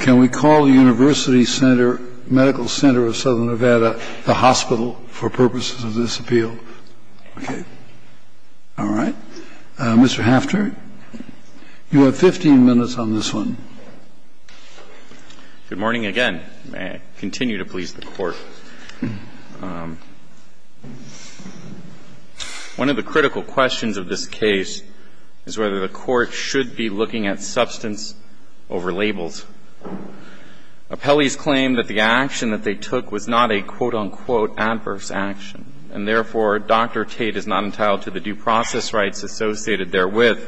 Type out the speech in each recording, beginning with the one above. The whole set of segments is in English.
Can we call the University Medical Center of Southern Nevada the hospital for purposes of this appeal? Okay. All right. Mr. Hafter, you have 15 minutes on this one. May I continue to please the Court? One of the critical questions of this case is whether the Court should be looking at substance over labels. Appellees claim that the action that they took was not a, quote-unquote, adverse action, and therefore, Dr. Tate is not entitled to the due process rights associated therewith.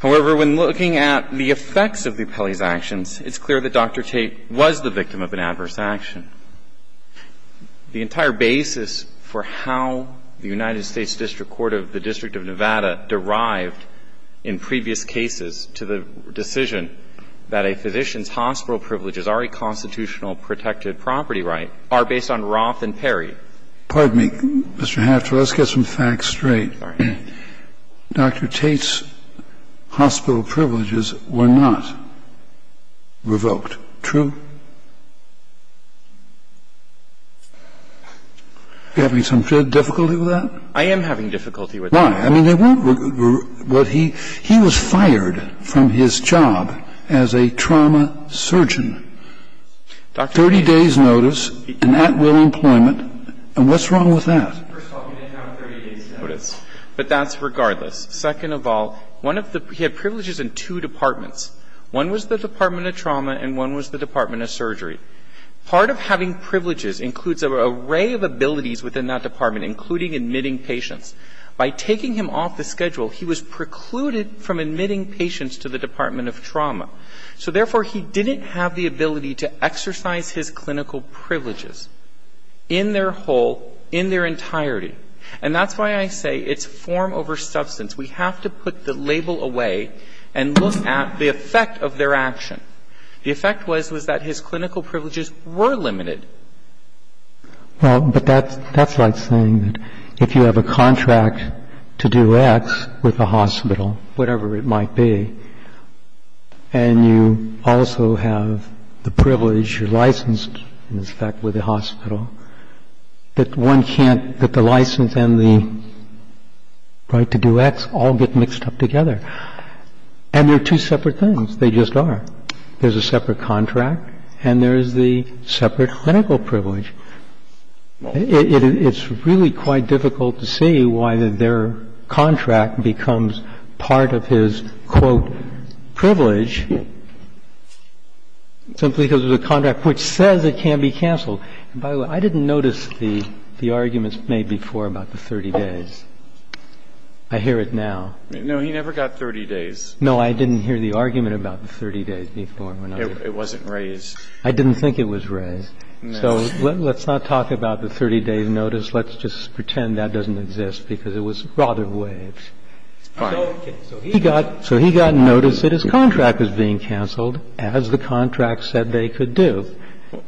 However, when looking at the effects of the appellee's actions, it's clear that Dr. Tate was the victim of an adverse action. The entire basis for how the United States District Court of the District of Nevada derived in previous cases to the decision that a physician's hospital privileges are a constitutional protected property right are based on Roth and Perry. Pardon me, Mr. Hafter. Let's get some facts straight. Sorry. Dr. Tate's hospital privileges were not revoked. True? Are you having some difficulty with that? I am having difficulty with that. Why? I mean, they weren't revoked. He was fired from his job as a trauma surgeon. 30 days' notice, an at-will employment. And what's wrong with that? First of all, he didn't have a 30-day notice. But that's regardless. Second of all, one of the – he had privileges in two departments. One was the Department of Trauma and one was the Department of Surgery. Part of having privileges includes an array of abilities within that department, including admitting patients. By taking him off the schedule, he was precluded from admitting patients to the Department of Trauma. So, therefore, he didn't have the ability to exercise his clinical privileges in their whole, in their entirety. And that's why I say it's form over substance. We have to put the label away and look at the effect of their action. The effect was, was that his clinical privileges were limited. Well, but that's like saying that if you have a contract to do X with a hospital, whatever it might be, and you also have the privilege, you're licensed in effect with the hospital, that one can't, that the license and the right to do X all get mixed up together. And they're two separate things. They just are. There's a separate contract and there's the separate clinical privilege. It's really quite difficult to see why their contract becomes part of his, quote, can say, well, it's going to be cancelled. And by the way, I didn't notice the arguments made before about the 30 days. I hear it now. No, he never got 30 days. No, I didn't hear the argument about the 30 days before. It wasn't raised. I didn't think it was raised. So let's not talk about the 30-day notice. Let's just pretend that doesn't exist, because it was rotted away. So he got notice that his contract was being cancelled, as the contract said they could do.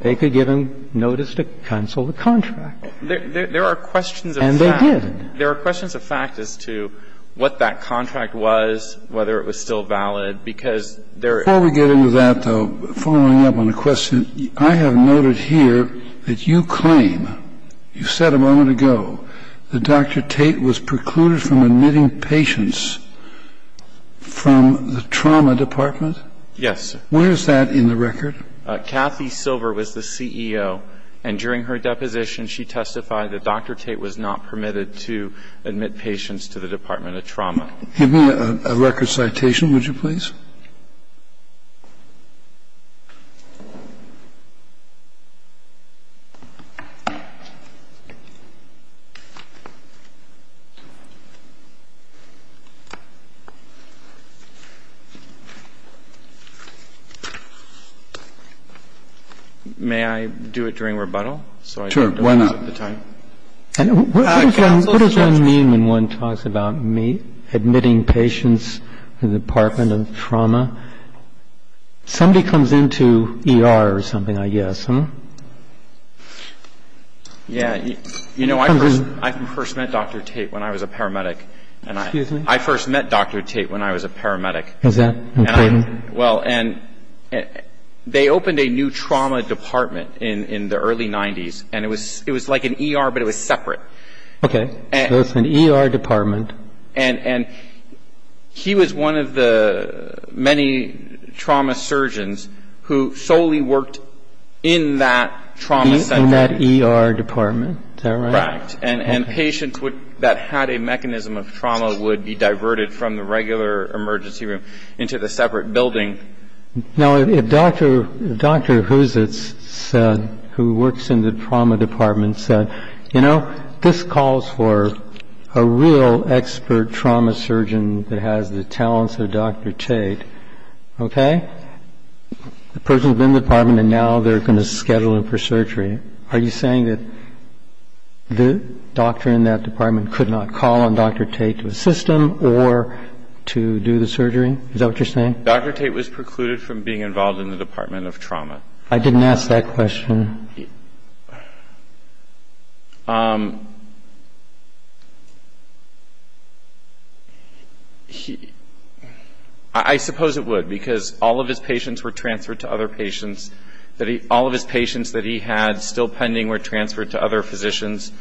They could give him notice to cancel the contract. There are questions of fact. And they did. There are questions of fact as to what that contract was, whether it was still valid, because there are. Before we get into that, though, following up on a question, I have noted here that you claim, you said a moment ago, that Dr. Tate was precluded from admitting patients from the trauma department. Yes. Where is that in the record? Kathy Silver was the CEO, and during her deposition, she testified that Dr. Tate was not permitted to admit patients to the Department of Trauma. Give me a record citation, would you please? May I do it during rebuttal, so I don't run out of time? And what does that mean when one talks about admitting patients from the Department of Trauma? Somebody comes into ER or something, I guess, huh? Yeah. You know, I first met Dr. Tate when I was a paramedic. Excuse me? I first met Dr. Tate when I was a paramedic. Is that important? Well, and they opened a new trauma department in the early 90s, and it was like an ER, but it was separate. Okay. So it's an ER department. And he was one of the many trauma surgeons who solely worked in that trauma center. In that ER department. Is that right? Right. And patients that had a mechanism of trauma would be diverted from the regular emergency room into the separate building. Now, if Dr. Husitz, who works in the trauma department, said, you know, this calls for a real expert trauma surgeon that has the talents of Dr. Tate, okay, the person's been in the department, and now they're going to schedule him for surgery. Are you saying that the doctor in that department could not call on Dr. Tate to assist him or to do the surgery? Is that what you're saying? Dr. Tate was precluded from being involved in the Department of Trauma. I didn't ask that question. I suppose it would, because all of his patients were transferred to other patients. All of his patients that he had still pending were transferred to other physicians.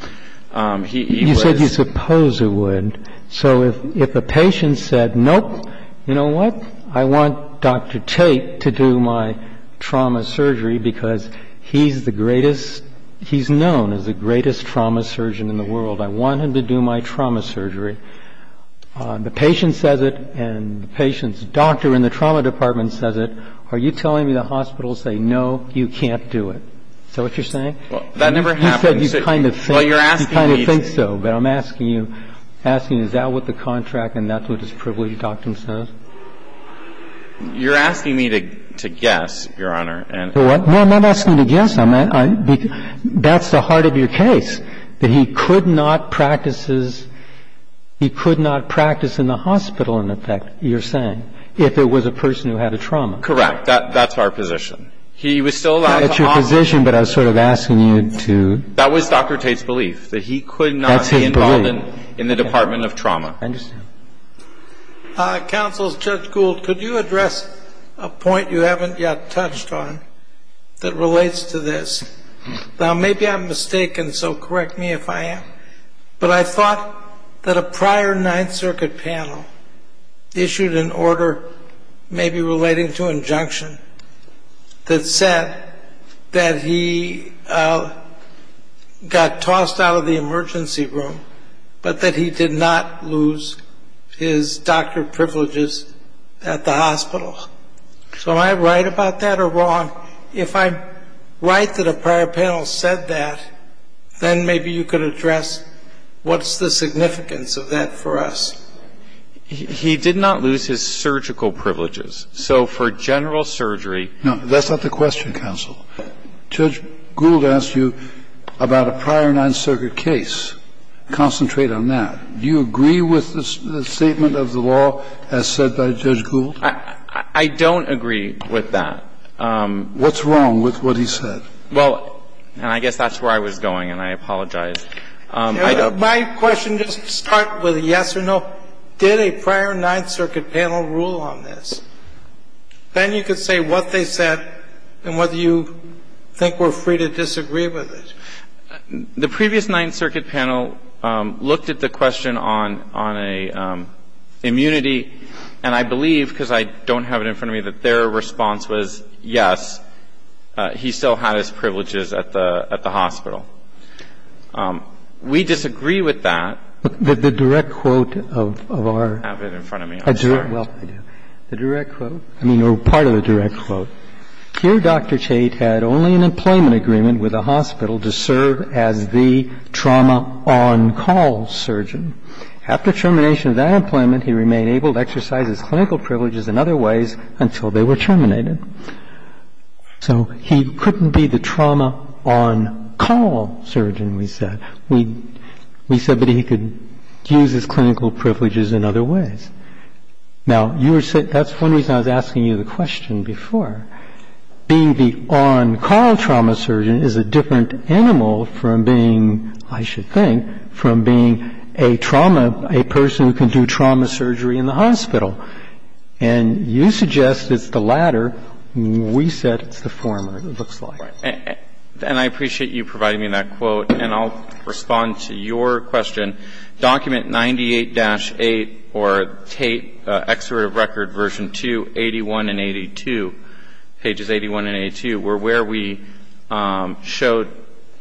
He was You said you suppose it would. So if a patient said, nope, you know what, I want Dr. Tate to do my trauma surgery because he's the greatest, he's known as the greatest trauma surgeon in the world. I want him to do my surgery. I want him to do my trauma surgery. The patient says it, and the patient's doctor in the trauma department says it. Are you telling me the hospital will say, no, you can't do it? Is that what you're saying? Well, that never happened. You said you kind of think so, but I'm asking you, asking, is that what the contract and that's what this privileged doctor says? You're asking me to guess, Your Honor. No, I'm not asking you to guess. That's the heart of your case, that he could not practice his, he could not practice in the hospital, in effect, you're saying, if it was a person who had a trauma. Correct, that's our position. He was still at your position, but I was sort of asking you to. That was Dr. Tate's belief, that he could not be involved in the department of trauma. I understand. Counsel, Judge Gould, could you address a point you haven't yet touched on that relates to this? Now, maybe I'm mistaken, so correct me if I am, but I thought that a prior Ninth Circuit panel issued an order, maybe relating to injunction, that said that he got tossed out of the emergency room, but that he did not lose his doctor privileges at the hospital. So am I right about that or wrong? If I'm right that a prior panel said that, then maybe you could address what's the significance of that for us. He did not lose his surgical privileges, so for general surgery. No, that's not the question, Counsel. Judge Gould asked you about a prior Ninth Circuit case. Concentrate on that. Do you agree with the statement of the law as said by Judge Gould? I don't agree with that. What's wrong with what he said? Well, and I guess that's where I was going, and I apologize. My question doesn't start with a yes or no. Did a prior Ninth Circuit panel rule on this? Then you could say what they said and whether you think we're free to disagree with it. The previous Ninth Circuit panel looked at the question on a immunity, and I believe, because I don't have it in front of me, that their response was, yes, he still had his privileges at the hospital. We disagree with that. But the direct quote of our... I don't have it in front of me, I'm sorry. Well, I do. The direct quote, I mean, or part of the direct quote, Here Dr. Chait had only an employment agreement with a hospital to serve as the trauma on-call surgeon. After termination of that employment, he remained able to exercise his clinical privileges in other ways until they were terminated. So he couldn't be the trauma on-call surgeon, we said. We said that he could use his clinical privileges in other ways. Now, that's one reason I was asking you the question before. Being the on-call trauma surgeon is a different animal from being, I should think, from being a trauma, a person who can do trauma surgery in the hospital. And you suggest it's the latter. We said it's the former, it looks like. And I appreciate you providing me that quote, and I'll respond to your question. Document 98-8, or Tate, Excerpt of Record, Version 2, 81 and 82, pages 81 and 82, were where we showed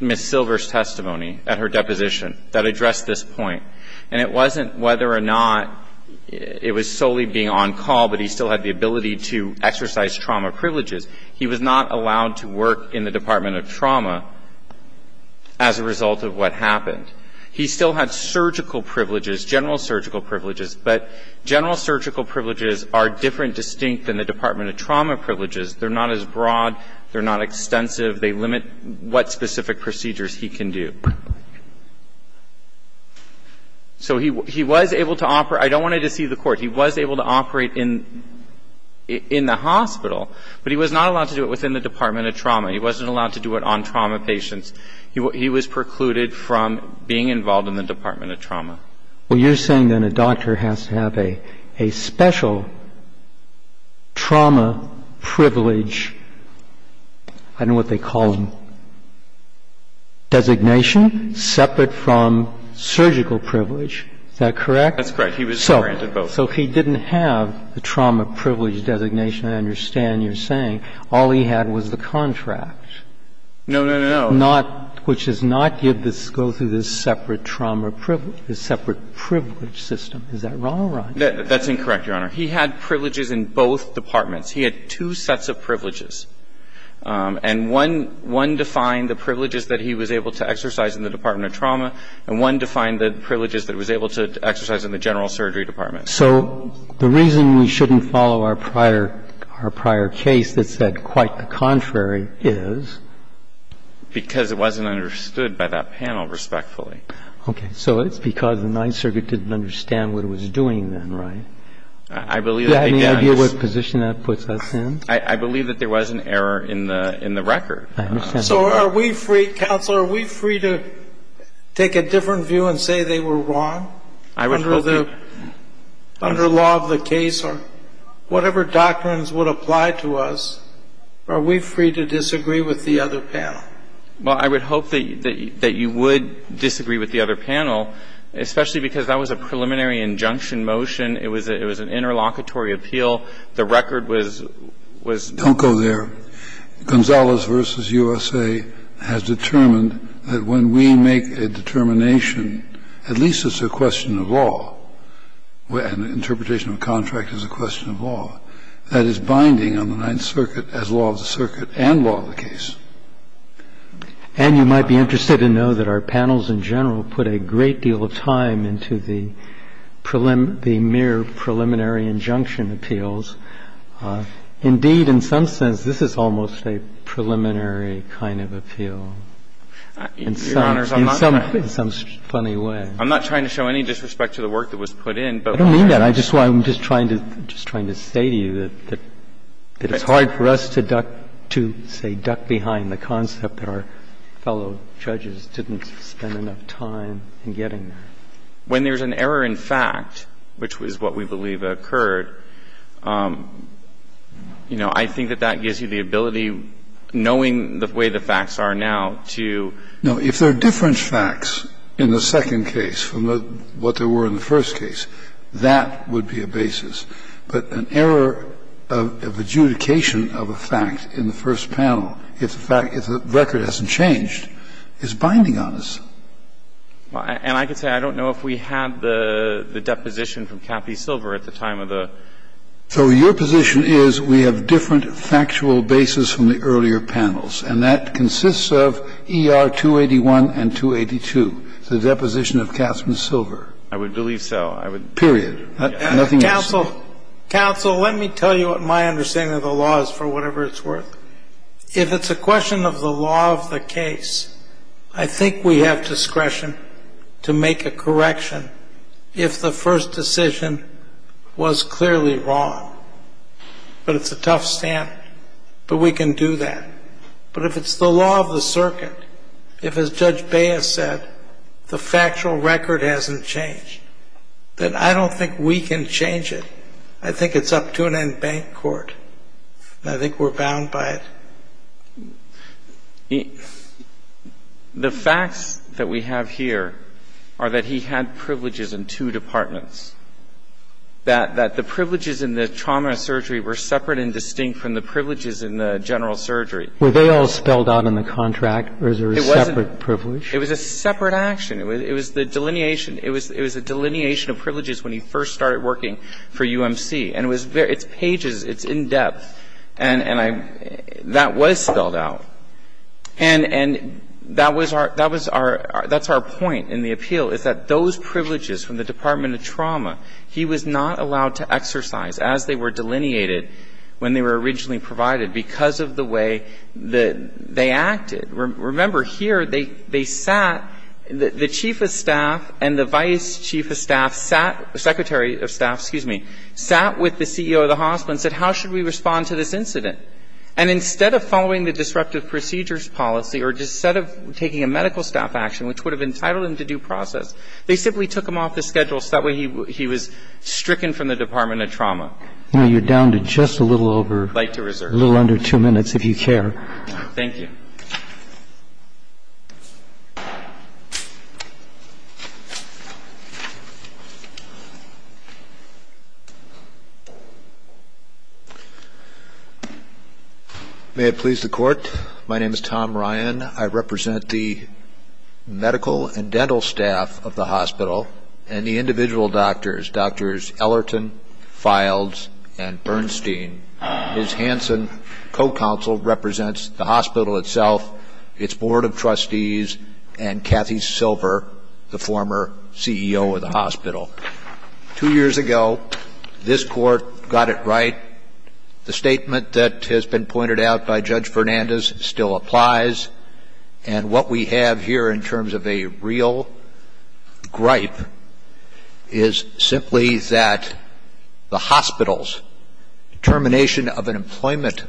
Ms. Silver's testimony at her deposition that addressed this point. And it wasn't whether or not it was solely being on-call, but he still had the ability to exercise trauma privileges. He was not allowed to work in the Department of Trauma as a result of what happened. He still had surgical privileges, general surgical privileges, but general surgical privileges are different, distinct than the Department of Trauma privileges. They're not as broad. They're not extensive. They limit what specific procedures he can do. So he was able to operate. I don't want to deceive the Court. He was able to operate in the hospital, but he was not allowed to do it within the Department of Trauma. He wasn't allowed to do it on trauma patients. He was precluded from being involved in the Department of Trauma. Well, you're saying then a doctor has to have a special trauma privilege, I don't know what they call them, designation separate from surgical privilege. Is that correct? That's correct. He was granted both. So he didn't have the trauma privilege designation, I understand you're saying. All he had was the contract. No, no, no, no. Which does not give this, go through this separate trauma privilege, this separate privilege system. Is that wrong or right? That's incorrect, Your Honor. He had privileges in both departments. He had two sets of privileges. And one defined the privileges that he was able to exercise in the Department of Trauma, and one defined the privileges that he was able to exercise in the General Surgery Department. So the reason we shouldn't follow our prior case that said quite the contrary is because it wasn't understood by that panel respectfully. Okay. So it's because the Ninth Circuit didn't understand what it was doing then, I believe it begins. Do you have any idea what position that puts us in? I believe that there was an error in the record. I understand. So are we free, counsel, are we free to take a different view and say they were wrong under the law of the case or whatever doctrines would apply to us? Are we free to disagree with the other panel? Well, I would hope that you would disagree with the other panel, especially because that was a preliminary injunction motion. It was an interlocutory appeal. The record was done. Don't go there. Gonzalez v. USA has determined that when we make a determination, at least it's a question of law, an interpretation of a contract is a question of law, that is binding on the Ninth Circuit as law of the circuit and law of the case. And you might be interested to know that our panels in general put a great deal of time into the mere preliminary injunction appeals. Indeed, in some sense, this is almost a preliminary kind of appeal in some funny way. I'm not trying to show any disrespect to the work that was put in. I don't mean that. I'm just trying to say to you that it's hard for us to, say, duck behind the concept that our fellow judges didn't spend enough time in getting there. When there's an error in fact, which is what we believe occurred, you know, I think that that gives you the ability, knowing the way the facts are now, to ---- If there are different facts in the second case from what there were in the first case, that would be a basis. But an error of adjudication of a fact in the first panel, if the record hasn't changed, is binding on us. And I could say I don't know if we had the deposition from Kathy Silver at the time of the ---- So your position is we have different factual basis from the earlier panels. And that consists of ER 281 and 282, the deposition of Kathy Silver. I would believe so. Period. Nothing else. Counsel, counsel, let me tell you what my understanding of the law is, for whatever it's worth. If it's a question of the law of the case, I think we have discretion to make a correction if the first decision was clearly wrong. But it's a tough stand. But we can do that. But if it's the law of the circuit, if, as Judge Baez said, the factual record hasn't changed, then I don't think we can change it. I think it's up to an in-bank court. And I think we're bound by it. The facts that we have here are that he had privileges in two departments, that the privileges in the trauma surgery were separate and distinct from the And he was not allowed to exercise those privileges. Were they all spelled out in the contract, or is there a separate privilege? It was a separate action. It was the delineation. It was a delineation of privileges when he first started working for UMC. And it's pages. It's in-depth. And that was spelled out. And that's our point in the appeal, is that those privileges from the Department of Trauma, he was not allowed to exercise as they were delineated when they were originally provided because of the way that they acted. Remember, here they sat, the chief of staff and the vice chief of staff sat, secretary of staff, excuse me, sat with the CEO of the hospital and said, how should we respond to this incident? And instead of following the disruptive procedures policy or instead of taking a medical staff action, which would have entitled him to due process, they simply took him off the schedule so that way he was stricken from the Department of Trauma. You're down to just a little over. I'd like to reserve. A little under two minutes, if you care. Thank you. May it please the court. My name is Tom Ryan. I represent the medical and dental staff of the hospital and the individual doctors, Doctors Ellerton, Files, and Bernstein. Ms. Hansen, co-counsel, represents the hospital itself, its board of trustees, and Kathy Silver, the former CEO of the hospital. Two years ago, this court got it right. The statement that has been pointed out by Judge Fernandez still applies, and what we have here in terms of a real gripe is simply that the hospital's termination of an employment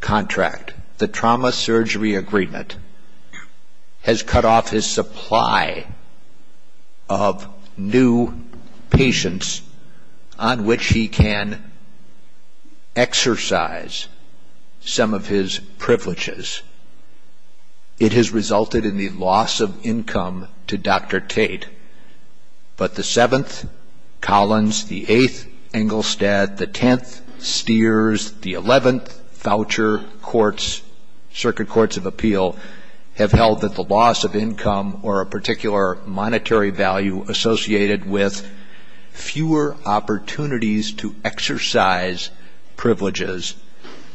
contract, the trauma surgery agreement, has cut off his supply of new patients on which he can exercise some of his privileges. It has resulted in the loss of income to Dr. Tate. But the 7th, Collins, the 8th, Engelstadt, the 10th, Steers, the 11th, Voucher Courts, Circuit Courts of Appeal, have held that the loss of income or a particular monetary value associated with fewer opportunities to exercise privileges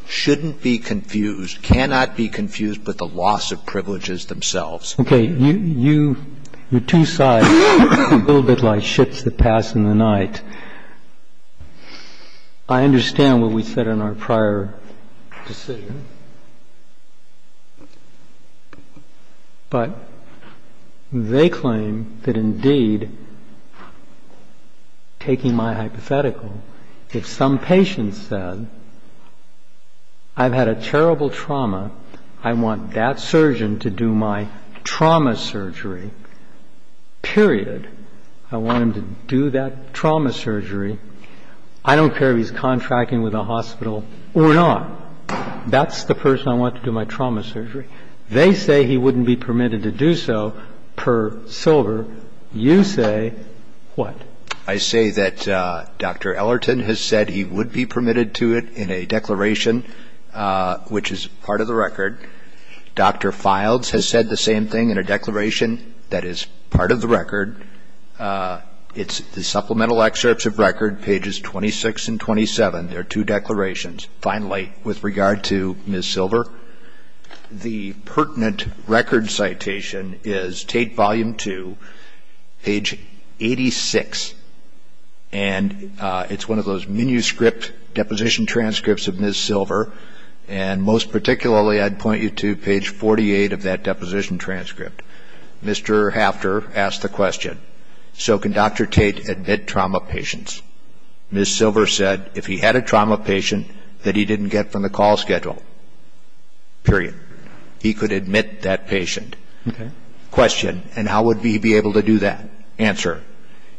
shouldn't be confused, cannot be confused with the loss of privileges themselves. Okay. You're two sides, a little bit like ships that pass in the night. I understand what we said in our prior decision, but they claim that indeed, taking my hypothetical, if some patient said, I've had a terrible trauma, I want that surgeon to do my trauma surgery, period, I want him to do that trauma surgery, I don't care if he's contracting with a hospital or not. That's the person I want to do my trauma surgery. They say he wouldn't be permitted to do so per silver. You say what? I say that Dr. Ellerton has said he would be permitted to it in a declaration, which is part of the record. Dr. Files has said the same thing in a declaration that is part of the record. It's the supplemental excerpts of record, pages 26 and 27. There are two declarations. Finally, with regard to Ms. Silver, the pertinent record citation is Tate Volume 2, page 86, and it's one of those manuscript deposition transcripts of Ms. Silver, and most particularly I'd point you to page 48 of that deposition transcript. Mr. Hafter asked the question, so can Dr. Tate admit trauma patients? Ms. Silver said if he had a trauma patient that he didn't get from the call schedule, period, he could admit that patient. Question, and how would he be able to do that? Answer,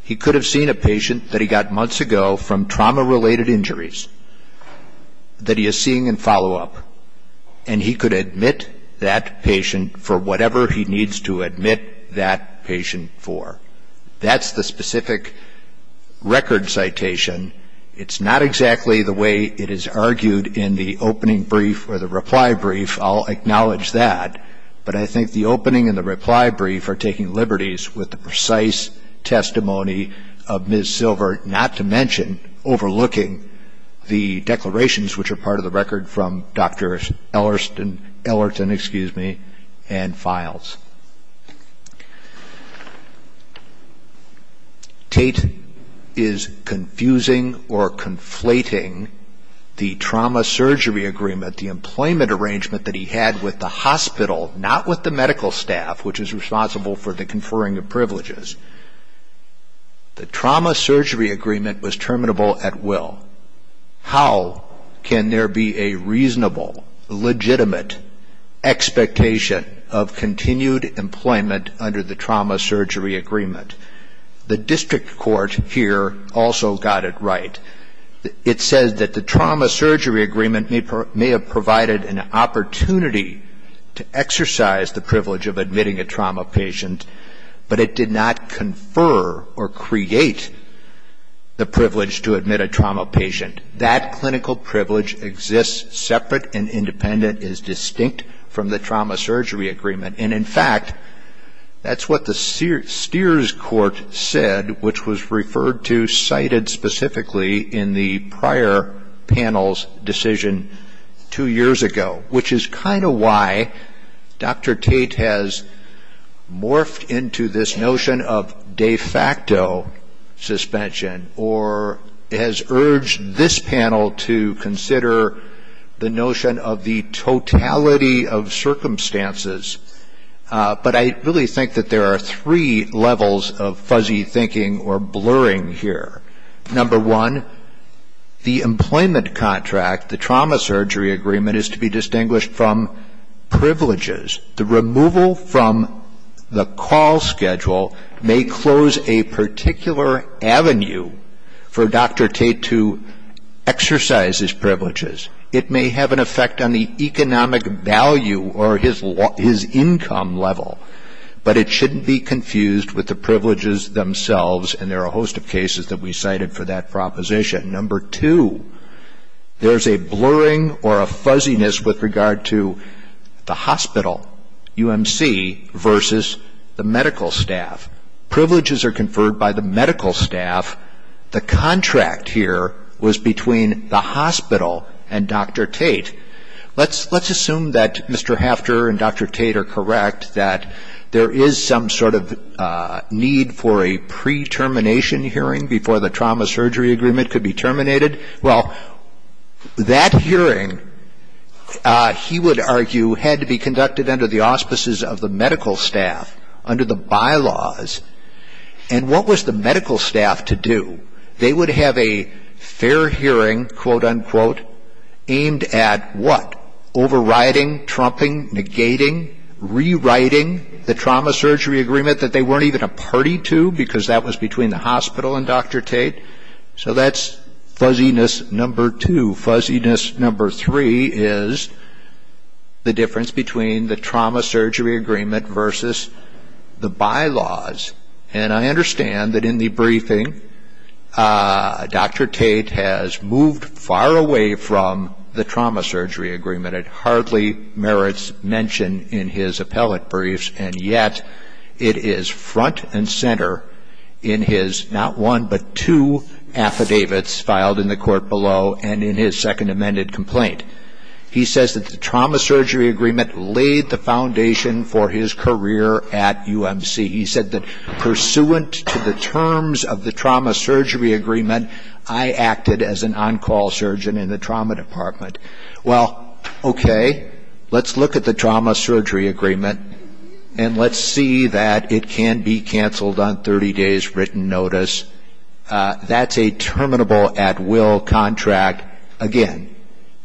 he could have seen a patient that he got months ago from trauma-related injuries that he is seeing in follow-up, and he could admit that patient for whatever he needs to admit that patient for. That's the specific record citation. It's not exactly the way it is argued in the opening brief or the reply brief. I'll acknowledge that. But I think the opening and the reply brief are taking liberties with the precise testimony of Ms. Silver, not to mention overlooking the declarations, which are part of the record from Dr. Ellerton and files. Tate is confusing or conflating the trauma surgery agreement, the employment arrangement that he had with the hospital, not with the medical staff, which is responsible for the conferring of privileges. The trauma surgery agreement was terminable at will. How can there be a reasonable, legitimate expectation of continued employment under the trauma surgery agreement? The district court here also got it right. It says that the trauma surgery agreement may have provided an opportunity to exercise the privilege of admitting a trauma patient, but it did not confer or create the privilege to admit a trauma patient. That clinical privilege exists separate and independent, is distinct from the trauma surgery agreement. And in fact, that's what the Steers court said, which was referred to, cited specifically in the prior panel's decision two years ago, which is kind of why Dr. Tate has morphed into this notion of de facto suspension or has urged this panel to consider the notion of the totality of circumstances. But I really think that there are three levels of fuzzy thinking or blurring here. Number one, the employment contract, the trauma surgery agreement is to be distinguished from privileges. The removal from the call schedule may close a particular avenue for Dr. Tate to exercise his privileges. It may have an effect on the economic value or his income level, but it shouldn't be confused with the privileges themselves, and there are a host of cases that we cited for that proposition. Number two, there's a blurring or a fuzziness with regard to the hospital, UMC, versus the medical staff. Privileges are conferred by the medical staff. The contract here was between the hospital and Dr. Tate. Let's assume that Mr. Hafter and Dr. Tate are correct, that there is some sort of need for a pre-termination hearing before the trauma surgery agreement could be terminated. Well, that hearing, he would argue, had to be conducted under the auspices of the medical staff, under the bylaws. And what was the medical staff to do? They would have a fair hearing, quote, unquote, aimed at what? Overriding, trumping, negating, rewriting the trauma surgery agreement that they made. So that's fuzziness number two. Fuzziness number three is the difference between the trauma surgery agreement versus the bylaws. And I understand that in the briefing, Dr. Tate has moved far away from the trauma surgery agreement. It hardly merits mention in his appellate briefs, and yet it is front and center in his not one, but two affidavits filed in the court below and in his second amended complaint. He says that the trauma surgery agreement laid the foundation for his career at UMC. He said that, pursuant to the terms of the trauma surgery agreement, I acted as an on-call surgeon in the trauma department. Well, okay, let's look at the trauma surgery agreement and let's see that it can be canceled on 30 days' written notice. That's a terminable at-will contract. Again,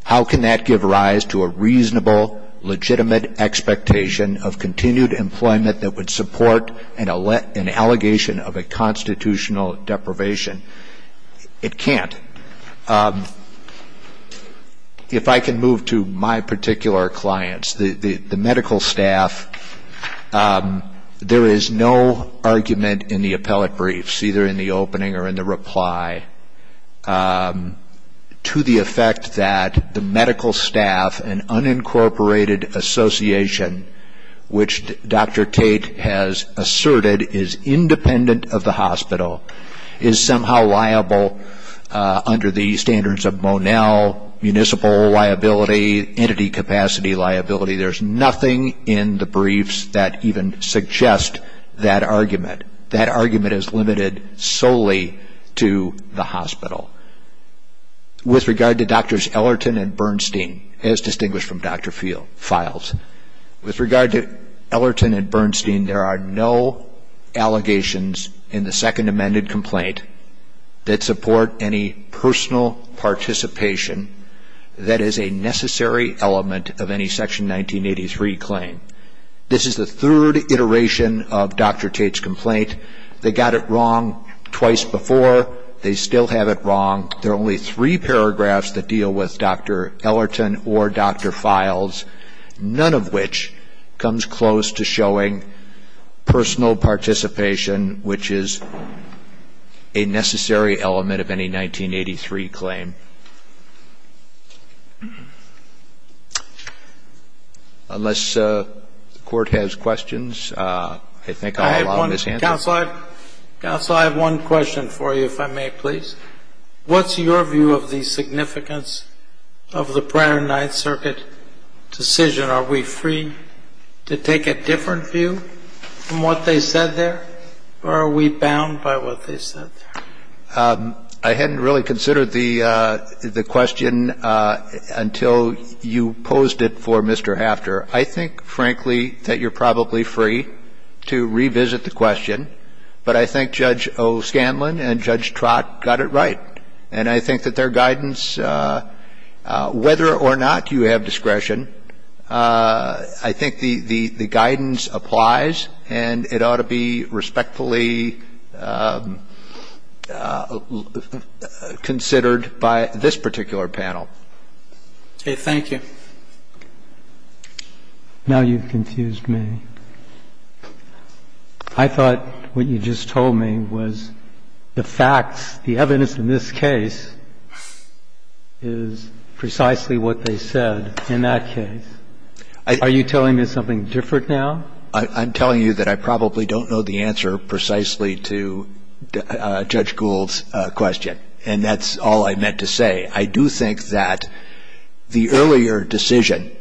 how can that give rise to a reasonable, legitimate expectation of continued employment that would support an allegation of a constitutional deprivation? It can't. If I can move to my particular clients, the medical staff, there is no argument in the appellate briefs, either in the opening or in the reply, to the effect that the medical staff, an unincorporated association, which Dr. Tate has asserted is independent of the hospital, is somehow liable under the standards of Monell, municipal liability, entity capacity liability. There's nothing in the briefs that even suggest that argument. That argument is limited solely to the hospital. With regard to Drs. Ellerton and Bernstein, as distinguished from Dr. Files, with regard to Ellerton and Bernstein, there are no allegations in the Second Amended Complaint that support any personal participation that is a necessary element of any Section 1983 claim. This is the third iteration of Dr. Tate's complaint. They got it wrong twice before. They still have it wrong. There are only three paragraphs that deal with Dr. Ellerton or Dr. Files, none of which comes close to showing personal participation, which is a necessary element of any 1983 claim. Unless the Court has questions, I think I'll allow Ms. Hanton. Counsel, I have one question for you, if I may please. What's your view of the significance of the prior Ninth Circuit decision? Are we free to take a different view from what they said there? Or are we bound by what they said there? I hadn't really considered the question until you posed it for Mr. Hafter. I think, frankly, that you're probably free to revisit the question, but I think Judge O'Scanlan and Judge Trott got it right. And I think that their guidance, whether or not you have discretion, I think the guidance applies, and it ought to be respectfully considered by this particular panel. Okay. Thank you. Now you've confused me. I thought what you just told me was the facts, the evidence in this case is precisely what they said. In that case, are you telling me something different now? I'm telling you that I probably don't know the answer precisely to Judge Gould's question, and that's all I meant to say. I do think that the earlier decision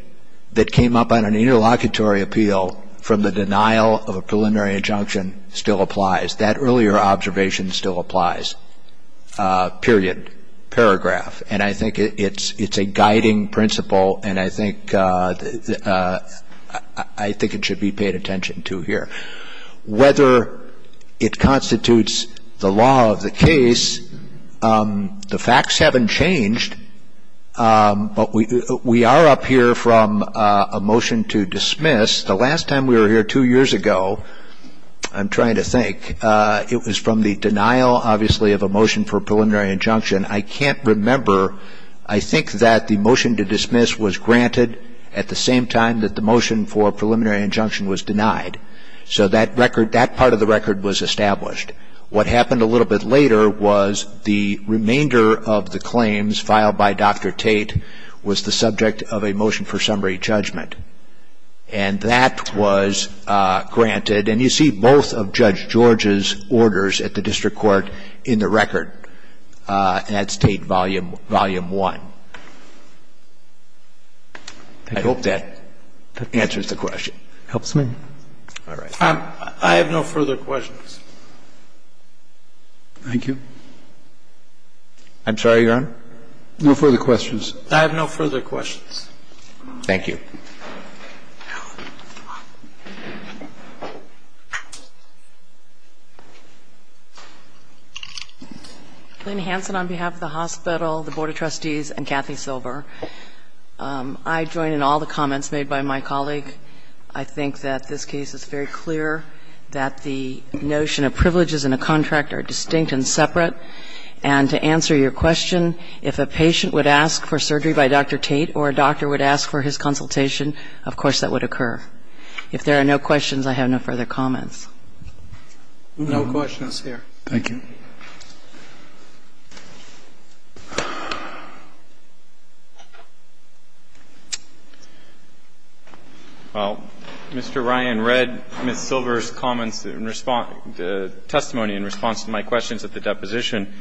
that came up on an interlocutory appeal from the denial of a preliminary injunction still applies. That earlier observation still applies, period, paragraph. And I think it's a guiding principle, and I think it should be paid attention to here. Whether it constitutes the law of the case, the facts haven't changed, but we are up here from a motion to dismiss. The last time we were here two years ago, I'm trying to think, it was from the denial, obviously, of a motion for a preliminary injunction. I can't remember. I think that the motion to dismiss was granted at the same time that the motion for a preliminary injunction was denied. So that part of the record was established. What happened a little bit later was the remainder of the claims filed by Dr. Tate was the subject of a motion for summary judgment, and that was granted. And you see both of Judge George's orders at the district court in the record at State Volume I. I hope that answers the question. It helps me. All right. I have no further questions. Thank you. I'm sorry, Your Honor? No further questions. I have no further questions. Thank you. Lynn Hansen on behalf of the hospital, the Board of Trustees, and Kathy Silver. I join in all the comments made by my colleague. I think that this case is very clear that the notion of privileges in a contract are distinct and separate. And to answer your question, if a patient would ask for surgery by Dr. Tate or a doctor would ask for his consultation, of course that would occur. If there are no questions, I have no further comments. No questions here. Thank you. Well, Mr. Ryan read Ms. Silver's comments in response to testimony in response to my questions at the deposition.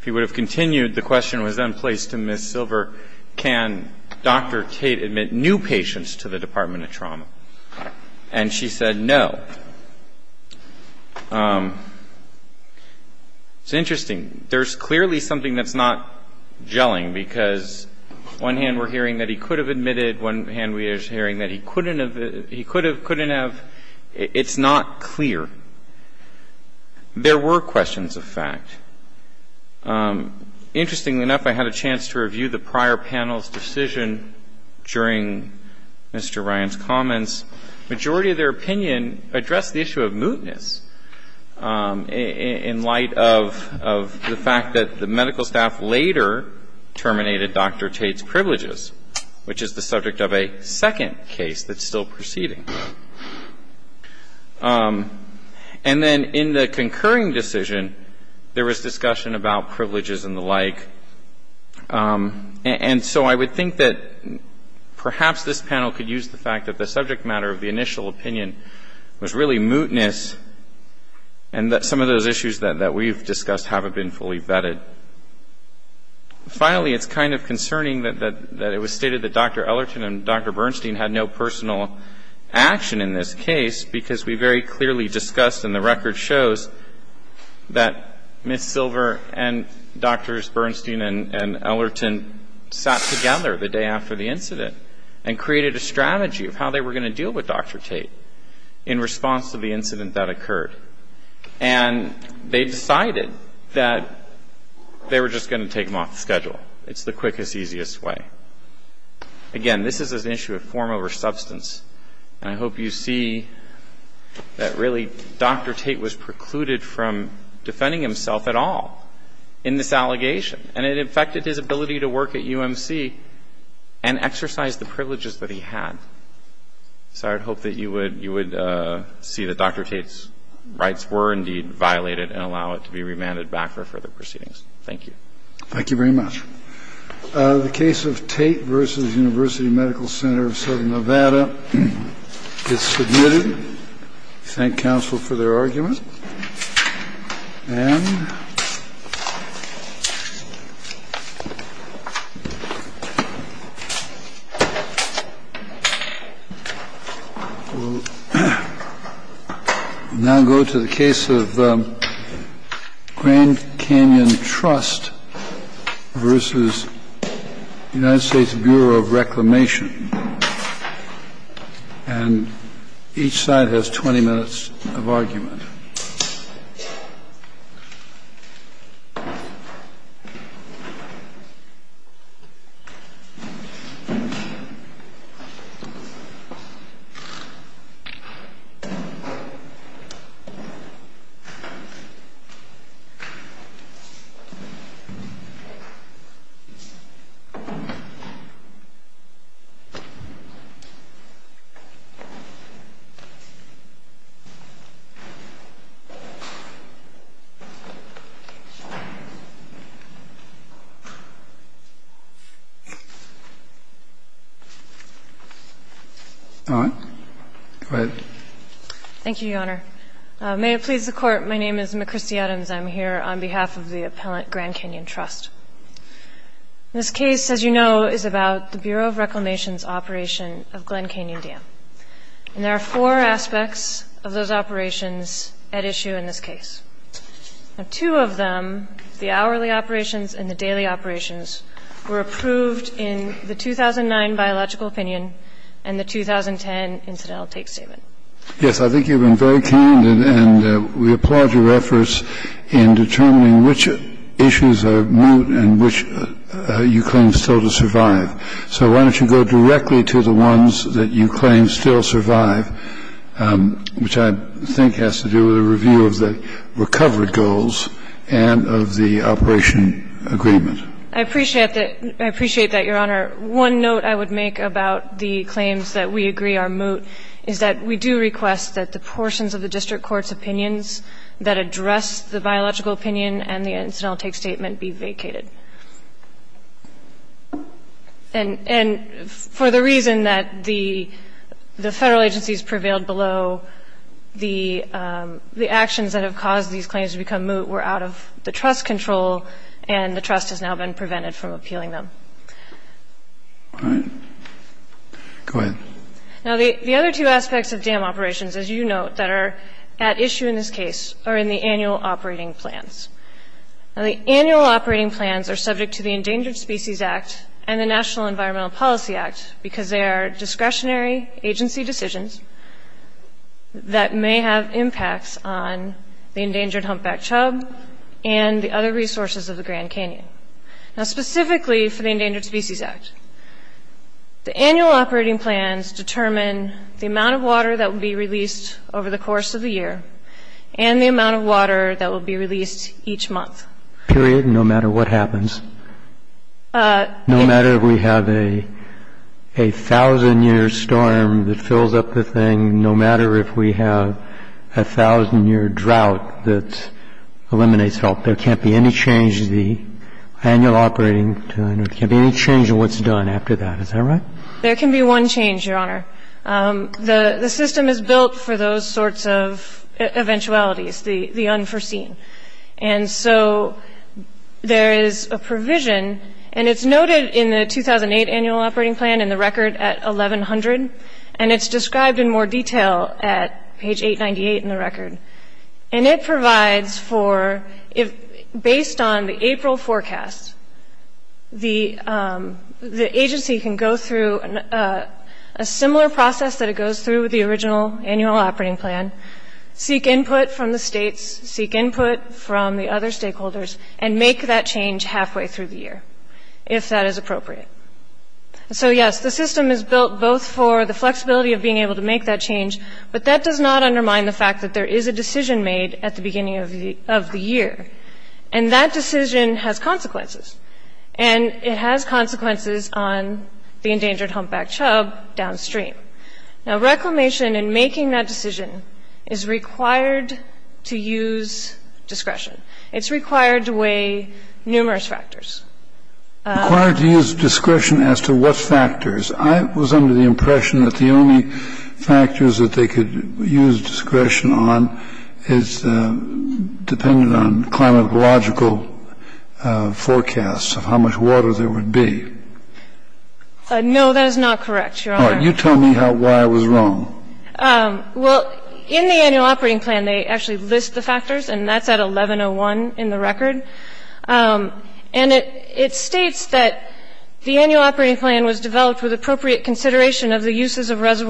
If he would have continued, the question was then placed to Ms. Silver, can Dr. Tate admit new patients to the Department of Trauma? And she said no. It's interesting. There's clearly something that's not gelling, because on one hand we're hearing that he could have admitted, on one hand we're hearing that he couldn't have, he could have, couldn't have. It's not clear. There were questions of fact. Interestingly enough, I had a chance to review the prior panel's decision during Mr. Ryan's comments. The majority of their opinion addressed the issue of mootness in light of the fact that the medical staff later terminated Dr. Tate's privileges, which is the subject of a second case that's still proceeding. And then in the concurring decision, there was discussion about privileges and the like. And so I would think that perhaps this panel could use the fact that the subject matter of the initial opinion was really mootness and that some of those issues that we've discussed haven't been fully vetted. Finally, it's kind of concerning that it was stated that Dr. Ellerton and Dr. Bernstein had no personal action in this case, because we very clearly discussed and the record shows that Ms. Silver and Drs. Bernstein and Ellerton sat together the day after the incident and created a strategy of how they were going to deal with Dr. Tate in response to the incident that occurred. And they decided that they were just going to take him off the schedule. It's the quickest, easiest way. Again, this is an issue of form over substance. And I hope you see that really Dr. Tate was precluded from defending himself at all in this allegation. And it affected his ability to work at UMC and exercise the privileges that he had. So I would hope that you would see that Dr. Tate's rights were indeed violated and allow it to be remanded back for further proceedings. Thank you. Thank you very much. The case of Tate v. University Medical Center of Southern Nevada is submitted. Thank counsel for their argument. And we'll now go to the case of Grand Canyon Trust v. United States Bureau of Reclamation. And each side has 20 minutes of argument. All right. Go ahead. Thank you, Your Honor. May it please the Court. My name is McChristy Adams. I'm here on behalf of the appellant Grand Canyon Trust. This case, as you know, is about the Bureau of Reclamation's application And I'm here on behalf of the U.S. Department of Justice. And there are four aspects of those operations at issue in this case. Now, two of them, the hourly operations and the daily operations, were approved in the 2009 biological opinion and the 2010 incidental take statement. Yes. I think you've been very candid and we applaud your efforts in determining which issues are moot and which you claim still to survive. So why don't you go directly to the ones that you claim still survive, which I think has to do with a review of the recovered goals and of the operation agreement. I appreciate that, Your Honor. One note I would make about the claims that we agree are moot is that we do request that the portions of the district court's opinions that address the biological opinion and the incidental take statement be vacated. And for the reason that the Federal agencies prevailed below, the actions that have caused these claims to become moot were out of the trust control and the trust has now been prevented from appealing them. All right. Go ahead. Now, the other two aspects of dam operations, as you note, that are at issue in this case are in the annual operating plans. Now, the annual operating plans are subject to the Endangered Species Act and the National Environmental Policy Act because they are discretionary agency decisions that may have impacts on the endangered humpback chub and the other resources of the Grand Canyon. Now, specifically for the Endangered Species Act, the annual operating plans determine the amount of water that will be released over the course of the year and the amount of water that will be released each month. Period? No matter what happens? No matter if we have a thousand-year storm that fills up the thing, no matter if we have a thousand-year drought that eliminates all. There can't be any change in the annual operating plan. There can't be any change in what's done after that. Is that right? There can be one change, Your Honor. The system is built for those sorts of eventualities, the unforeseen. And so there is a provision, and it's noted in the 2008 annual operating plan in the record at 1100, and it's described in more detail at page 898 in the record. And it provides for, based on the April forecast, the agency can go through a similar process that it goes through with the original annual operating plan, seek input from the states, seek input from the other stakeholders, and make that change halfway through the year, if that is appropriate. So, yes, the system is built both for the flexibility of being able to make that change, but that does not undermine the fact that there is a decision made at the beginning of the year. And that decision has consequences, and it has consequences on the endangered humpback chub downstream. Now, reclamation in making that decision is required to use discretion. It's required to weigh numerous factors. Required to use discretion as to what factors? I was under the impression that the only factors that they could use discretion on is dependent on climatological forecasts of how much water there would be. No, that is not correct, Your Honor. All right. You tell me why I was wrong. Well, in the annual operating plan, they actually list the factors, and that's at 1101 in the record. And it states that the annual operating plan was developed with appropriate consideration of the uses of reservoirs.